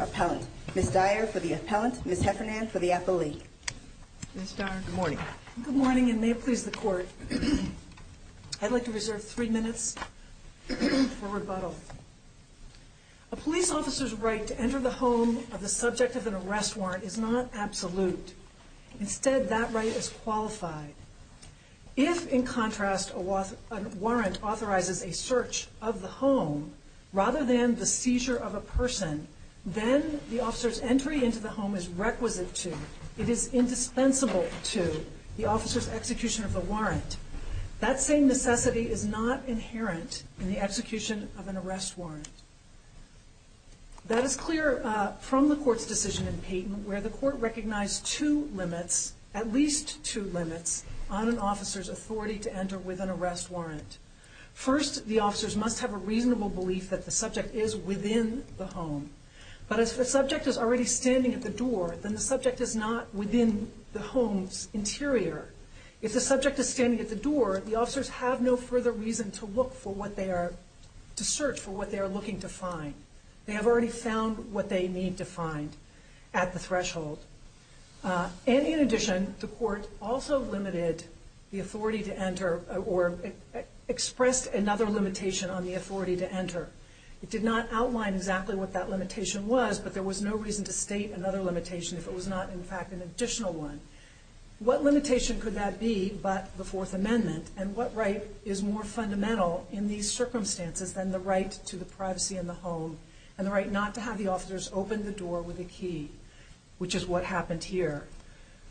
Appellant, Ms. Dyer for the Appellant, Ms. Heffernan for the Appellee. Ms. Dyer, good morning. Good morning and may it please the Court, I'd like to reserve three minutes for rebuttal. A police officer's right to enter the home of the subject of an arrest warrant is not absolute. Instead, that right is qualified. If, in contrast, a warrant authorizes a search of the home rather than the seizure of a person, then the officer's entry into the home is requisite to, it is indispensable to, the officer's execution of the warrant. That same necessity is not inherent in the execution of an arrest warrant. That is clear from the Court's decision in Payton where the Court recognized two limits, at least two limits, on an officer's authority to enter with an arrest warrant. First, the officers must have a reasonable belief that the subject is within the home. But if the subject is already standing at the door, then the subject is not within the home's interior. If the subject is standing at the door, the officers have no further reason to look for what they are looking to find. They have already found what they need to find at the threshold. And in addition, the Court also limited the authority to enter or expressed another limitation on the authority to enter. It did not outline exactly what that limitation was, but there was no reason to state another limitation if it was not, in fact, an additional one. What limitation could that be but the Fourth Amendment? And what right is more fundamental in these circumstances than the right to the privacy in the home and the right not to have the officers open the door with a key, which is what happened here.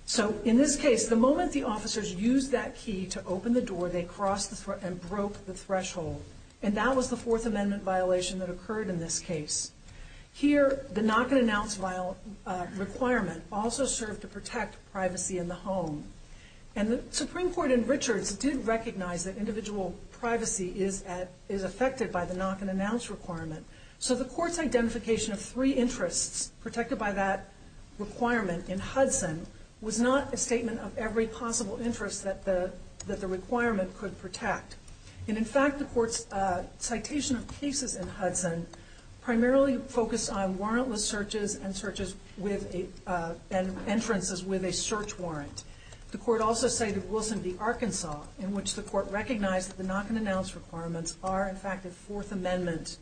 So in this case, the moment the officers used that key to open the door, they crossed the threshold and broke the threshold. And that was the Fourth Amendment violation that occurred in this case. Here, the knock-and-announce requirement also served to protect privacy in the home. And the Supreme Court's individual privacy is affected by the knock-and-announce requirement. So the Court's identification of three interests protected by that requirement in Hudson was not a statement of every possible interest that the requirement could protect. And in fact, the Court's citation of cases in Hudson primarily focused on warrantless searches and entrances with a search warrant. The Court also cited Wilson v. Arkansas, in which the knock-and-announce requirements are, in fact, a Fourth Amendment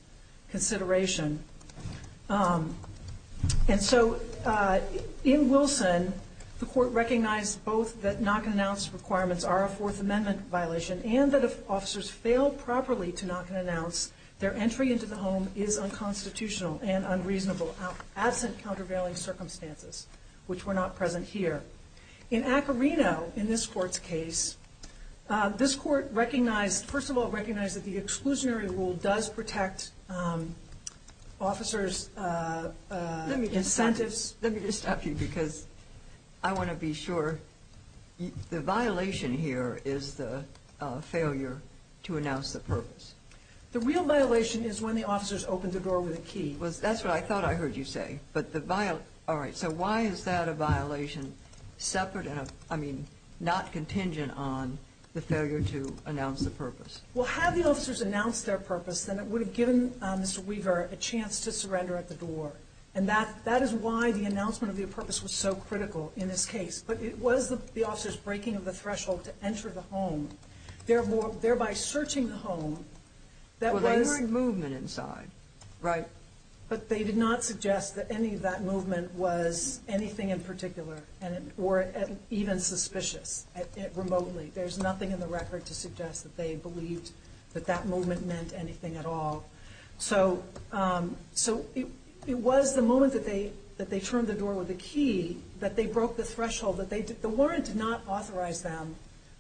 consideration. And so in Wilson, the Court recognized both that knock-and-announce requirements are a Fourth Amendment violation and that if officers fail properly to knock-and-announce, their entry into the home is unconstitutional and unreasonable, absent countervailing circumstances, which were not present here. In Acorino, in this Court's case, this Court recognized, first of all, recognized that the exclusionary rule does protect officers' incentives. Let me just stop you because I want to be sure. The violation here is the failure to announce the purpose. The real violation is when the officers open the door with a key. Well, that's what I thought I heard you say. But the violation, all right, so why is that violation separate and, I mean, not contingent on the failure to announce the purpose? Well, had the officers announced their purpose, then it would have given Mr. Weaver a chance to surrender at the door. And that is why the announcement of the purpose was so critical in this case. But it was the officers' breaking of the threshold to enter the home, thereby searching the home, that was... Well, they weren't moving inside, right? But they did not suggest that any of that movement was anything in particular or even suspicious remotely. There's nothing in the record to suggest that they believed that that movement meant anything at all. So it was the moment that they turned the door with the key that they broke the threshold. The warrant did not authorize them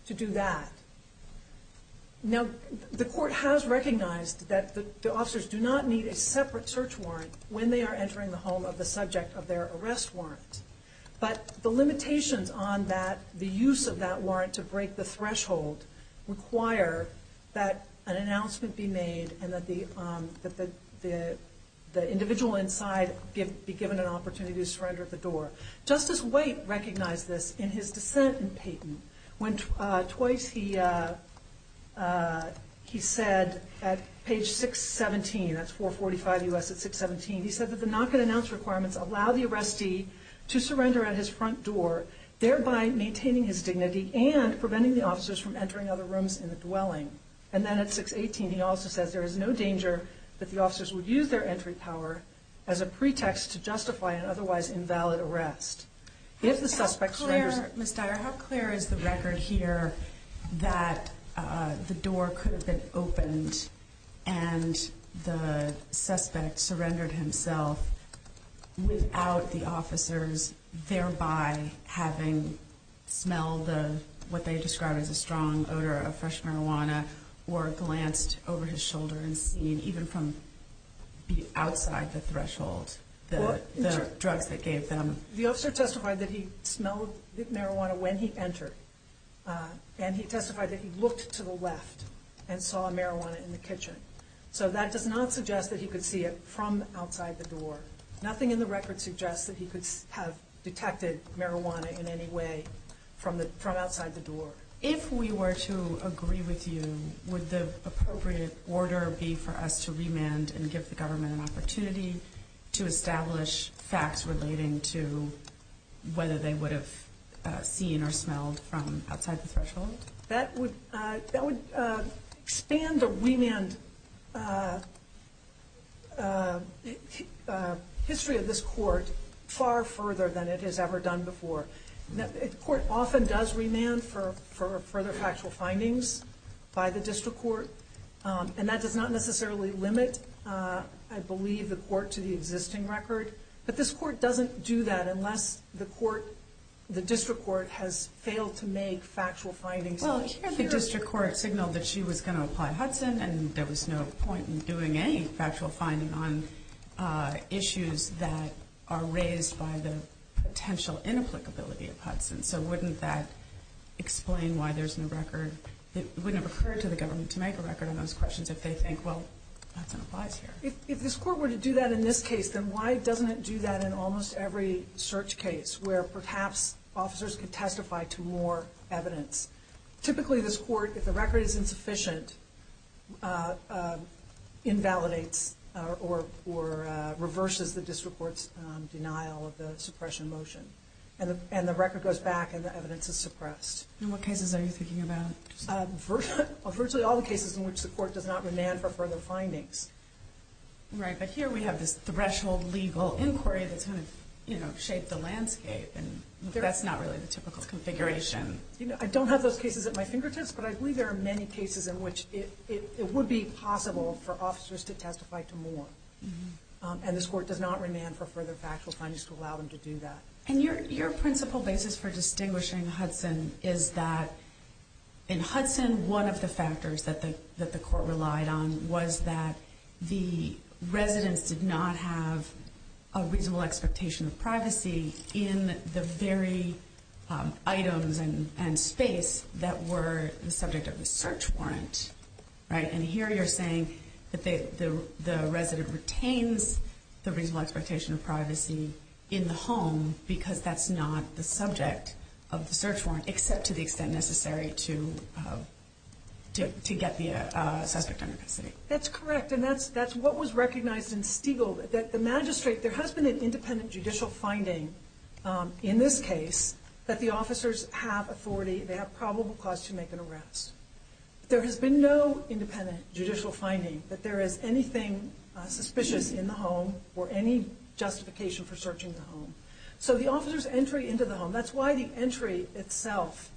to do that. Now, the court has recognized that the officers do not need a separate search warrant when they are entering the home of the subject of their arrest warrant. But the limitations on that, the use of that warrant to break the threshold, require that an announcement be made and that the individual inside be given an opportunity to surrender at the door. Justice White recognized this in his dissent in Payton, when twice he said at page 617, that's 445 U.S. at 617, he said that the knock-and-announce requirements allow the arrestee to surrender at his front door, thereby maintaining his dignity and preventing the officers from entering other rooms in the dwelling. And then at 618, he also says there is no danger that the officers would use their entry power as a pretext to justify an otherwise invalid arrest. If the suspect surrenders... Ms. Dyer, how clear is the record here that the door could have been opened and the suspect surrendered himself without the officers thereby having smelled what they describe as a strong odor of fresh marijuana or glanced over his shoulder and seen even from outside the threshold the drugs that gave them... The officer testified that he smelled the marijuana when he entered. And he testified that he looked to the left and saw marijuana in the kitchen. So that does not suggest that he could see it from outside the door. Nothing in the record suggests that he could have detected marijuana in any way from outside the door. If we were to agree with you, would the appropriate order be for us to remand and give the government an opportunity to establish facts relating to whether they would have seen or smelled from outside the threshold? That would expand the remand history of this court far further than it has ever done before. The court often does remand for further factual findings by the district court. And that does not necessarily limit, I believe, the court to the existing record. But this court doesn't do that unless the district court has failed to make factual findings. Well, the district court signaled that she was going to apply Hudson and there was no point in doing any factual finding on issues that are raised by the potential inapplicability of Hudson. So wouldn't that explain why there's no record? It wouldn't have occurred to the government to make a record on those questions if they think, well, Hudson applies here. If this court were to do that in this case, then why doesn't it do that in almost every search case where perhaps officers could testify to more evidence? Typically this court, if the record is insufficient, invalidates or reverses the district court's denial of the record. And the record goes back and the evidence is suppressed. In what cases are you thinking about? Virtually all the cases in which the court does not remand for further findings. Right. But here we have this threshold legal inquiry that's going to shape the landscape. That's not really the typical configuration. I don't have those cases at my fingertips, but I believe there are many cases in which it would be possible for officers to testify to more. And this court does not remand for further factual findings to allow them to do that. And your principal basis for distinguishing Hudson is that in Hudson, one of the factors that the court relied on was that the residents did not have a reasonable expectation of privacy in the very items and space that were the subject of a search warrant. And here you're saying that the resident retains the reasonable expectation of privacy in the home because that's not the subject of the search warrant, except to the extent necessary to get the suspect under custody. That's correct. And that's what was recognized in Stiegel, that the magistrate, there has been an independent judicial finding in this case that the officers have authority, they have probable cause to make an arrest. There has been no independent judicial finding that there is anything suspicious in the home or any justification for searching the home. So the officer's entry into the home, that's why the entry itself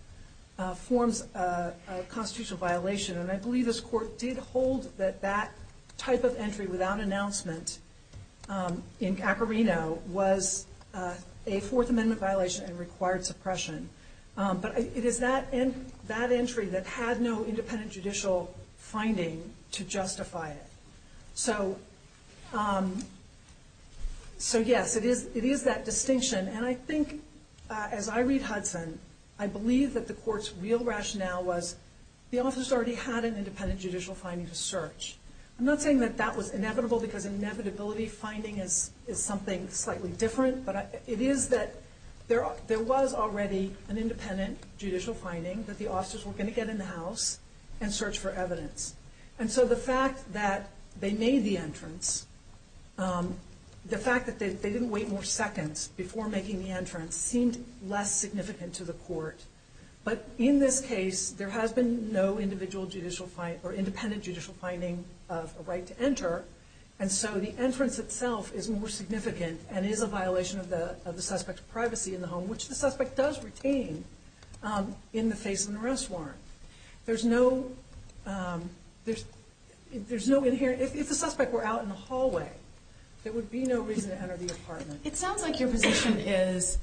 forms a constitutional violation. And I believe this court did hold that that type of entry without announcement in Acorino was a Fourth Amendment violation and required suppression. But it is that entry that had no independent judicial finding to justify it. So, yes, it is that distinction. And I think, as I read Hudson, I believe that the court's real rationale was the officers already had an independent judicial finding to search. I'm not saying that that was inevitable because inevitability finding is something slightly different, but it is that there was already an independent judicial finding that the officers were going to get in the house and search for evidence. And so the fact that they made the entrance, the fact that they didn't wait more seconds before making the entrance seemed less significant to the court. But in this case, there has been no individual judicial finding or independent judicial finding of a right to enter. And so the entrance itself is more significant and is a violation of the suspect's privacy in the home, which the suspect does retain in the face of an arrest warrant. If the suspect were out in the hallway, there would be no reason to enter the apartment. It sounds like your position is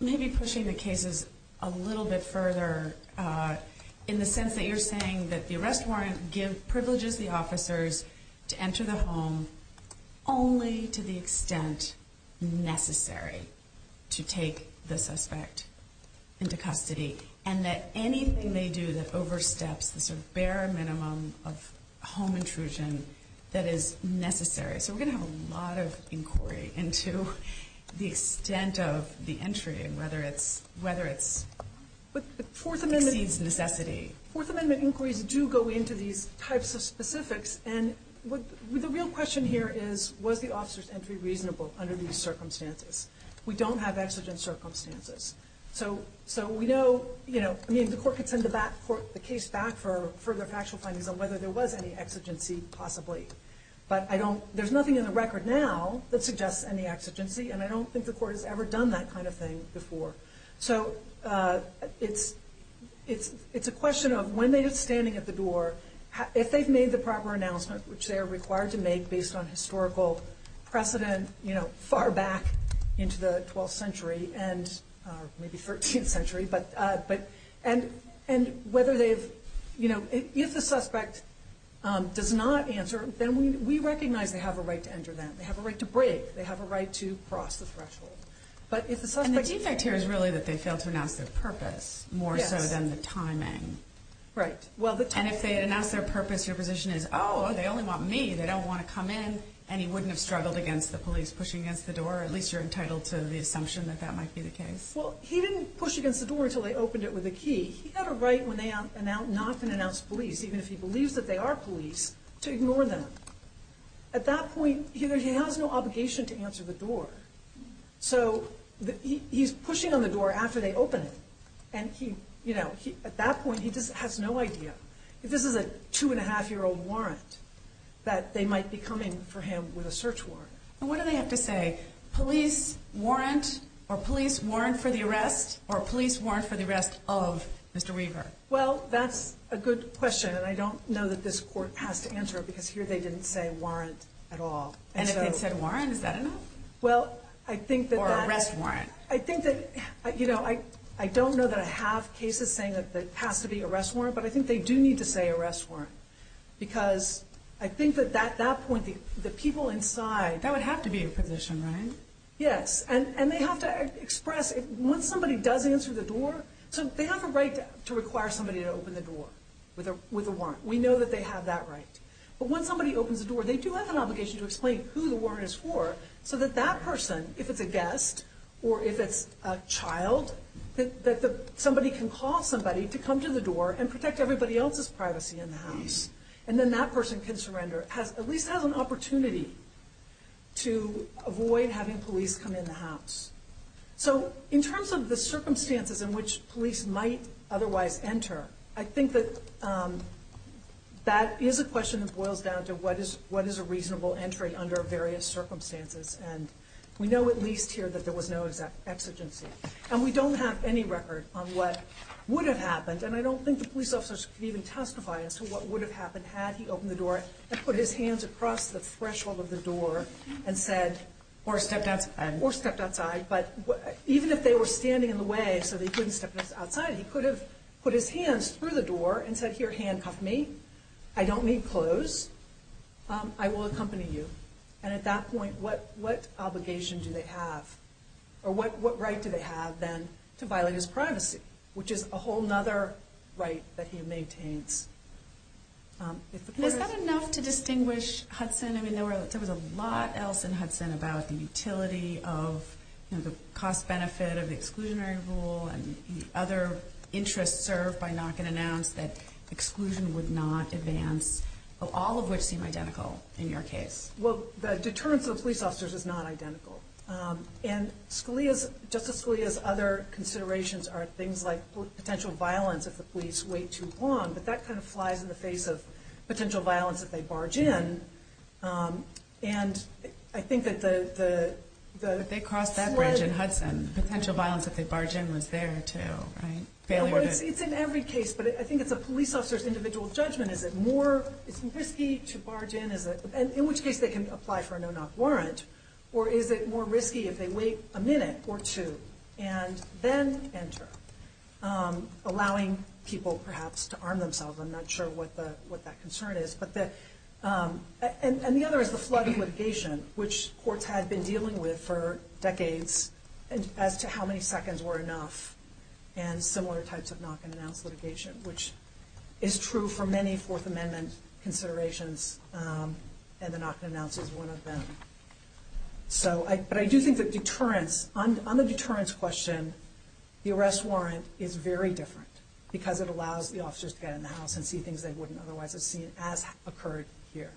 maybe pushing the cases a little bit further in the sense that you're saying that the arrest warrant privileges the officers to enter the home only to the extent necessary to take the suspect into custody and that anything they do that oversteps the bare minimum of home intrusion that is necessary. So we're going to have a lot of inquiry into the extent of the entry and whether it exceeds necessity, whether it exceeds necessity. And the court amendment inquiries do go into these types of specifics. And the real question here is, was the officer's entry reasonable under these circumstances? We don't have exigent circumstances. So we know, I mean, the court could send the case back for further factual findings on whether there was any exigency possibly. But I don't, there's nothing in the record now that suggests any exigency, and I don't think the court has ever done that kind of thing before. So it's a question of when they are standing at the door, if they've made the proper announcement, which they are required to make based on historical precedent, you know, far back into the 12th century and maybe 13th century, but, and whether they've, you know, if the suspect does not answer, then we recognize they have a right to enter then. They have a right to break. They have a right to cross the threshold. But if the suspect... And the defect here is really that they failed to announce their purpose more so than the timing. Right. Well, the timing... And if they had announced their purpose, your position is, oh, they only want me. They don't want to come in, and he wouldn't have struggled against the police pushing against the door. At least you're entitled to the assumption that that might be the case. Well, he didn't push against the door until they opened it with a key. He had a right when they knock and announce police, even if he believes that they are police, to ignore them. At that point, he has no obligation to answer the door. So he's pushing on the door after they open it, and he, you know, at that point, he just has no idea. If this is a two and a half year old warrant, that they might be coming for him with a search warrant. And what do they have to say? Police warrant or police warrant for the arrest or police warrant for the arrest of Mr. Weaver? Well, that's a good question, and I don't know that this court has to answer it because here they didn't say warrant at all. And if they said warrant, is that enough? Well, I think that that... Or arrest warrant. I think that, you know, I don't know that I have cases saying that there has to be arrest warrant, but I think they do need to say arrest warrant because I think that at that point, the people inside... That would have to be a position, right? Yes, and they have to express, once somebody does answer the door, so they have a right to require somebody to open the door with a warrant. We know that they have that right. But when somebody opens the door, they do have an obligation to explain who the warrant is for so that that person, if it's a guest or if it's a child, that somebody can call somebody to come to the door and protect everybody else's privacy in the house. And then that person can surrender, at least has an opportunity to avoid having police come in the house. So in terms of the circumstances in which police might otherwise enter, I think that is a question that boils down to what is a reasonable entry under various circumstances. And we know at least here that there was no exigency. And we don't have any record on what would have happened, and I don't think the police officers could even testify as to what would have happened had he opened the door and put his hands across the threshold of the door and said... Or stepped outside. Or stepped outside. But even if they were standing in the way so they couldn't step outside, he could have put his hands through the door and said, here, handcuff me. I don't need clothes. I will accompany you. And at that point, what obligation do they have? Or what right do they have, then, to violate his privacy? Which is a whole other right that he maintains. Is that enough to distinguish Hudson? I mean, there was a lot else in Hudson about the utility of the cost-benefit of the exclusionary rule and the other interests served by knocking an ounce that exclusion would not advance. All of which seem identical in your case. Well, the deterrence of the police officers is not identical. And Justice Scalia's other considerations are things like potential violence if the police wait too long. But that kind of flies in the face of potential violence if they barge in. And I think that the... They crossed that bridge in Hudson. Potential violence if they barge in was there, too. It's in every case. But I think it's a police officer's individual judgment. Is it more... Is it risky to barge in? In which case, they can apply for a no-knock warrant. Or is it more risky if they wait a minute or two and then enter? Allowing people, perhaps, to arm And the other is the flooding litigation, which courts had been dealing with for decades as to how many seconds were enough. And similar types of knock-and-announce litigation, which is true for many Fourth Amendment considerations. And the knock-and-announce is one of them. But I do think that deterrence... On the deterrence question, the arrest warrant is very different. Because it allows the officers to get in the house and see things they wouldn't otherwise have seen as occurred here.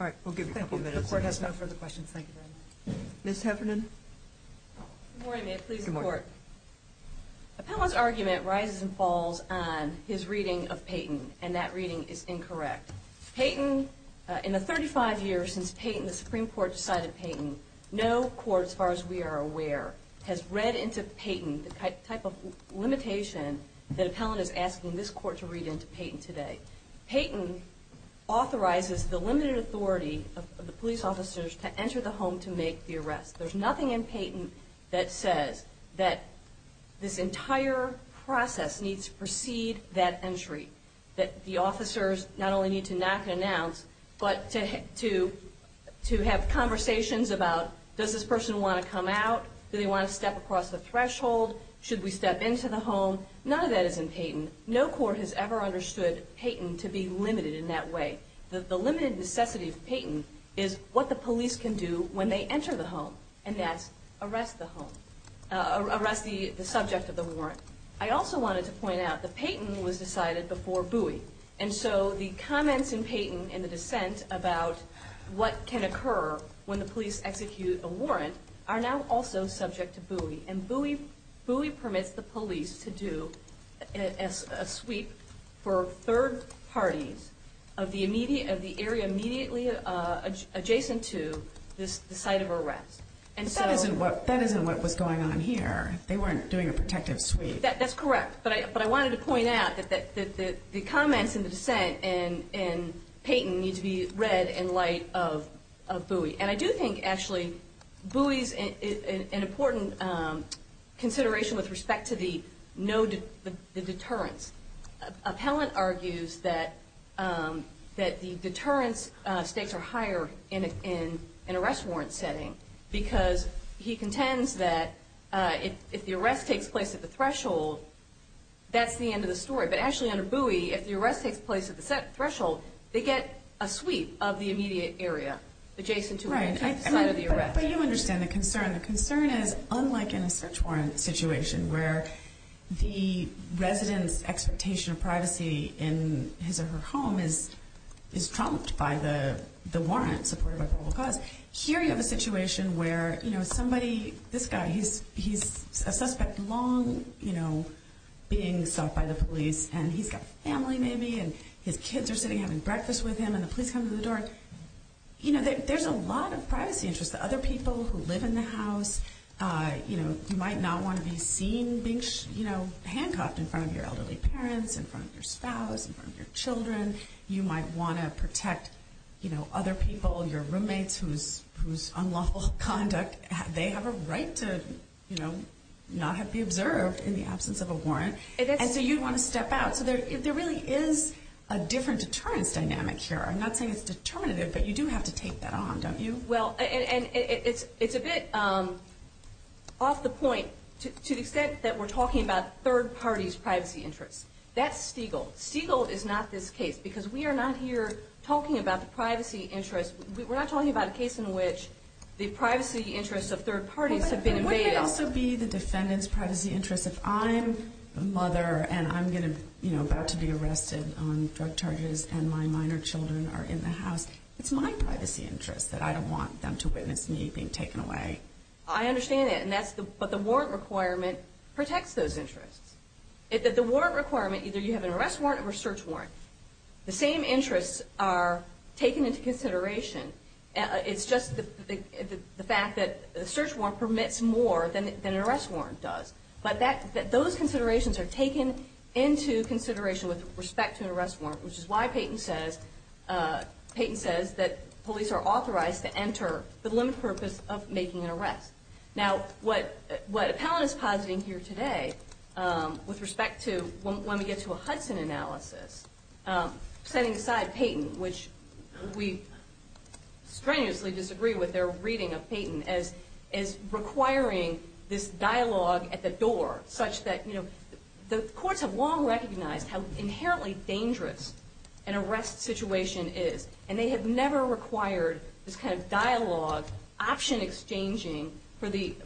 All right. We'll give you a couple minutes. The Court has no further questions. Thank you very much. Ms. Heffernan. Good morning. May it please the Court. Good morning. Appellant's argument rises and falls on his reading of Payton. And that reading is incorrect. Payton... In the 35 years since Payton, the Supreme Court decided Payton, no court, as far as we are aware, has read into Payton the type of limitation that Appellant is asking this time. Payton authorizes the limited authority of the police officers to enter the home to make the arrest. There's nothing in Payton that says that this entire process needs to precede that entry. That the officers not only need to knock-and-announce, but to have conversations about, does this person want to come out? Do they want to step across the threshold? Should we step into the home? None of that is in Payton. No court has ever understood Payton to be limited in that way. The limited necessity of Payton is what the police can do when they enter the home. And that's arrest the home. Arrest the subject of the warrant. I also wanted to point out that Payton was decided before Bowie. And so the comments in Payton in the dissent about what can occur when the police execute a warrant are now also subject to Bowie. Bowie permits the police to do a sweep for third parties of the area immediately adjacent to the site of arrest. That isn't what was going on here. They weren't doing a protective sweep. That's correct. But I wanted to point out that the comments in the dissent in Payton need to be consideration with respect to the deterrence. Appellant argues that the deterrence stakes are higher in an arrest warrant setting because he contends that if the arrest takes place at the threshold, that's the end of the story. But actually under Bowie, if the arrest takes place at the threshold, they get a sweep of the immediate area adjacent to the site of the arrest. But you understand the concern. The concern is unlike in a search warrant situation where the resident's expectation of privacy in his or her home is trumped by the warrant supported by probable cause. Here you have a situation where somebody, this guy, he's a suspect long being sought by the police and he's got family maybe and his kids are sitting having breakfast with him and the police come to the door. There's a lot of privacy interest. Other people who live in the house, you might not want to be seen being handcuffed in front of your elderly parents, in front of your spouse, in front of your children. You might want to protect other people, your roommates whose unlawful conduct, they have a right to not be observed in the absence of a warrant. And so you'd want to step out. So there really is a different deterrence dynamic here. I'm not saying it's determinative, but you do have to take that on, don't you? Well, and it's a bit off the point to the extent that we're talking about third parties' privacy interests. That's Stiegel. Stiegel is not this case because we are not here talking about the privacy interests. We're not talking about a case in which the privacy interests of third parties have been invaded. It could also be the defendant's privacy interests. If I'm a mother and I'm about to be arrested on drug charges and my minor children are in the house, it's my privacy interests that I don't want them to witness me being taken away. I understand that, but the warrant requirement protects those interests. The warrant requirement, either you have an arrest warrant or a search warrant. The same interests are taken into consideration. It's just the fact that the search warrant permits more than an arrest warrant does. But those considerations are taken into consideration with respect to an arrest warrant, which is why Peyton says that police are authorized to enter for the limited purpose of making an arrest. Now, what Appellant is positing here today with respect to when we get to a Hudson analysis, setting aside Peyton, which we strenuously disagree with their reading of Peyton, as requiring this dialogue at the door such that, you know, the courts have long recognized how inherently dangerous an arrest situation is. And they have never required this kind of dialogue, option exchanging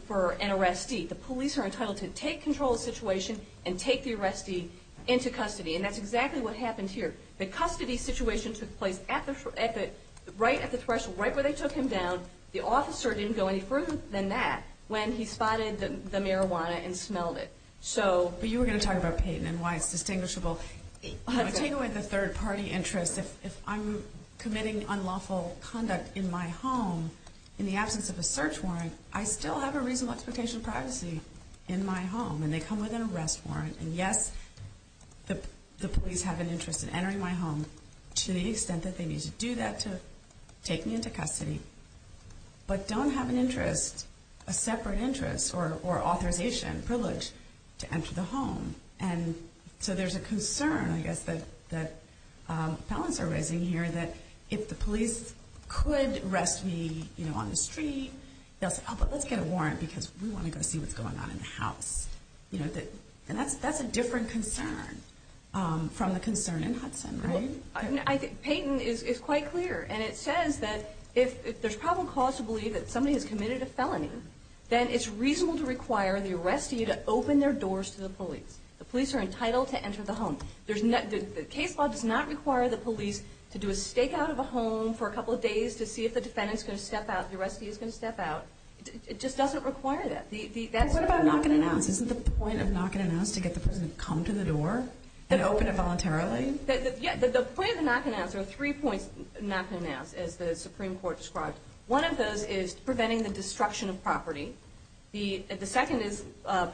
for an arrestee. The police are entitled to take control of the situation and take the arrestee into custody. And that's exactly what happened here. The custody situation took place right at the threshold, right where they took him down. The officer didn't go any further than that when he spotted the marijuana and smelled it. But you were going to talk about Peyton and why it's distinguishable. Take away the third-party interest. If I'm committing unlawful conduct in my home in the absence of a search warrant, I still have a reasonable expectation of privacy in my home, and they come with an arrest warrant. And, yes, the police have an interest in entering my home to the extent that they need to do that to take me into custody, but don't have an interest, a separate interest or authorization, privilege to enter the home. And so there's a concern, I guess, that felons are raising here that if the police could arrest me on the street, they'll say, oh, but let's get a warrant because we want to go see what's going on in the house. And that's a different concern from the concern in Hudson, right? Peyton is quite clear. And it says that if there's probable cause to believe that somebody has committed a felony, then it's reasonable to require the arrestee to open their doors to the police. The police are entitled to enter the home. The case law does not require the police to do a stakeout of a home for a couple of days to see if the defendant is going to step out, the arrestee is going to step out. It just doesn't require that. What about knock and announce? Isn't the point of knock and announce to get the person to come to the door and open it voluntarily? Yeah, the point of knock and announce, there are three points of knock and announce, as the Supreme Court described. One of those is preventing the destruction of property. The second is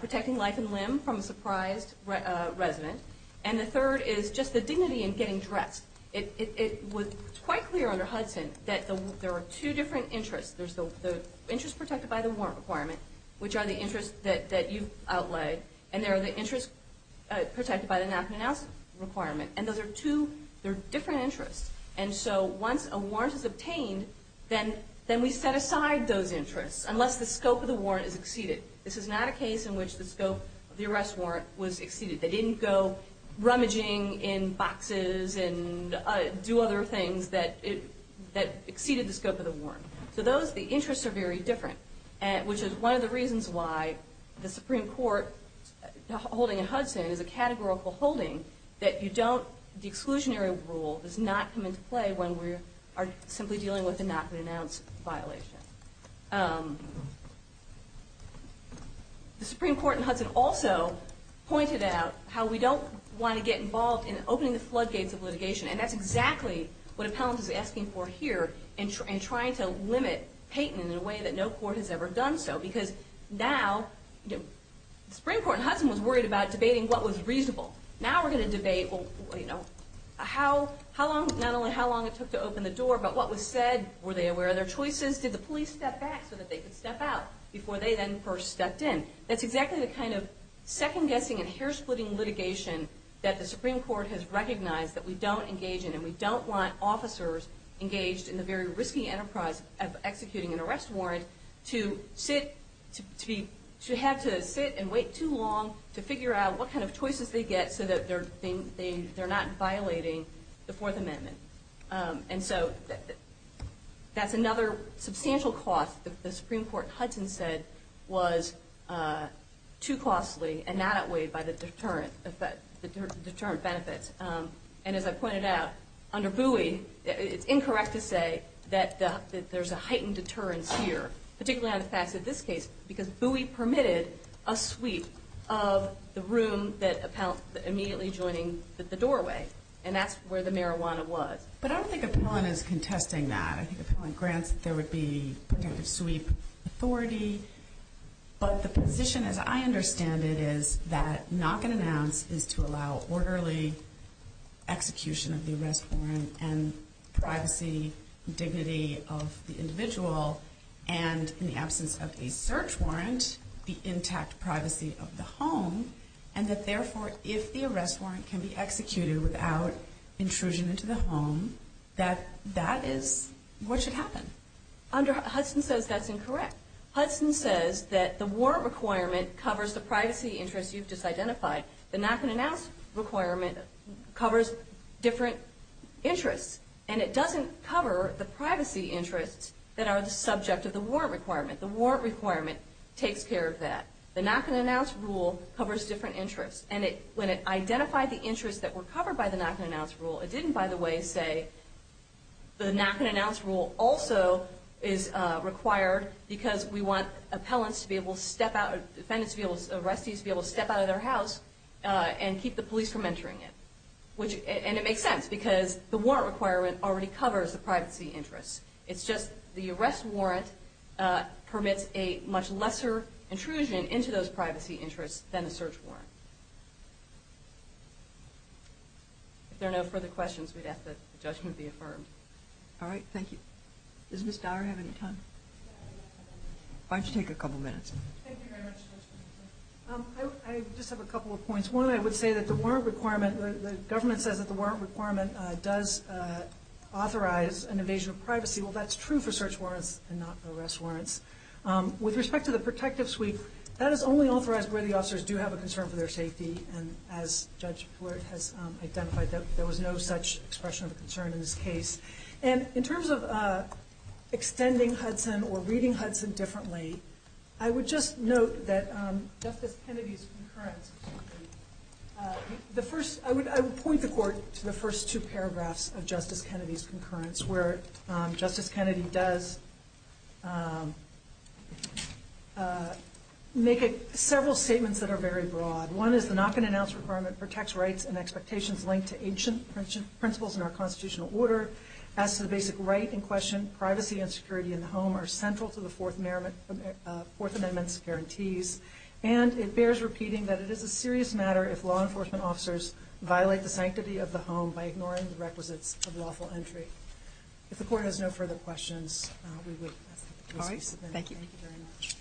protecting life and limb from a surprised resident. And the third is just the dignity in getting dressed. It was quite clear under Hudson that there are two different interests. There's the interest protected by the warrant requirement, which are the interests that you've outlaid, and there are the interests protected by the knock and announce requirement. And those are two different interests. And so once a warrant is obtained, then we set aside those interests, unless the scope of the warrant is exceeded. This is not a case in which the scope of the arrest warrant was exceeded. They didn't go rummaging in boxes and do other things that exceeded the scope of the warrant. So those, the interests are very different, which is one of the reasons why the Supreme Court holding in Hudson is a categorical holding that you don't, the exclusionary rule does not come into play when we are simply dealing with a knock and announce violation. The Supreme Court in Hudson also pointed out how we don't want to get involved in opening the floodgates of litigation, and that's exactly what appellant is asking for here in trying to limit Peyton in a way that no court has ever done so, because now, the Supreme Court in Hudson was worried about debating what was reasonable. Now we're going to debate how long, not only how long it took to open the door, but what was said, were they aware of their choices, did the police step back so that they could step out before they then first stepped in. That's exactly the kind of second-guessing and hair-splitting litigation that the Supreme Court has recognized that we don't engage in, and we don't want officers engaged in the very risky enterprise of executing an arrest warrant to have to sit and wait too long to figure out what kind of choices they get so that they're not violating the Fourth Amendment. And so that's another substantial cost that the Supreme Court in Hudson said was too costly and not outweighed by the deterrent benefits. And as I pointed out, under Bowie, it's incorrect to say that there's a heightened deterrence here, particularly on the facts of this case, because Bowie permitted a sweep of the room immediately joining the doorway, and that's where the marijuana was. But I don't think Appellant is contesting that. I think Appellant grants that there would be protective sweep authority, but the position, as I understand it, is that knock and announce is to allow orderly execution of the arrest warrant and privacy, dignity of the individual, and in the absence of a search warrant, the intact privacy of the home, and that therefore if the arrest warrant can be executed without intrusion into the home, that that is what should happen. Hudson says that's incorrect. Hudson says that the warrant requirement covers the privacy interest you've just identified. The knock and announce requirement covers different interests, and it doesn't cover the privacy interests that are the subject of the warrant requirement. The warrant requirement takes care of that. The knock and announce rule covers different interests, and when it identified the interests that were covered by the knock and announce rule, it didn't, by the way, say the knock and announce rule also is required because we want defendants to be able to step out of their house and keep the police from entering it, and it makes sense because the warrant requirement already covers the privacy interests. It's just the arrest warrant permits a much lesser intrusion into those privacy interests than a search warrant. If there are no further questions, we'd ask that the judgment be affirmed. All right, thank you. Does Ms. Dower have any time? Why don't you take a couple minutes? Thank you very much, Judge Peterson. I just have a couple of points. One, I would say that the warrant requirement, the government says that the warrant requirement does authorize an invasion of privacy. Well, that's true for search warrants and not for arrest warrants. With respect to the protective suite, that is only authorized where the officers do have a concern for their safety, and as Judge Blair has identified, there was no such expression of concern in this case. And in terms of extending Hudson or reading Hudson differently, I would just note that Justice Kennedy's concurrence, I would point the Court to the first two paragraphs of Justice Kennedy's concurrence where Justice Kennedy does make several statements that are very broad. One is the knock-and-announce requirement protects rights and expectations linked to ancient principles in our constitutional order. As to the basic right in question, privacy and security in the home are central to the Fourth Amendment's guarantees, and it bears repeating that it is a serious matter if law enforcement officers violate the sanctity of the home by ignoring the requisites of lawful entry. If the Court has no further questions, we would ask that the case be submitted. All right, thank you. Thank you very much.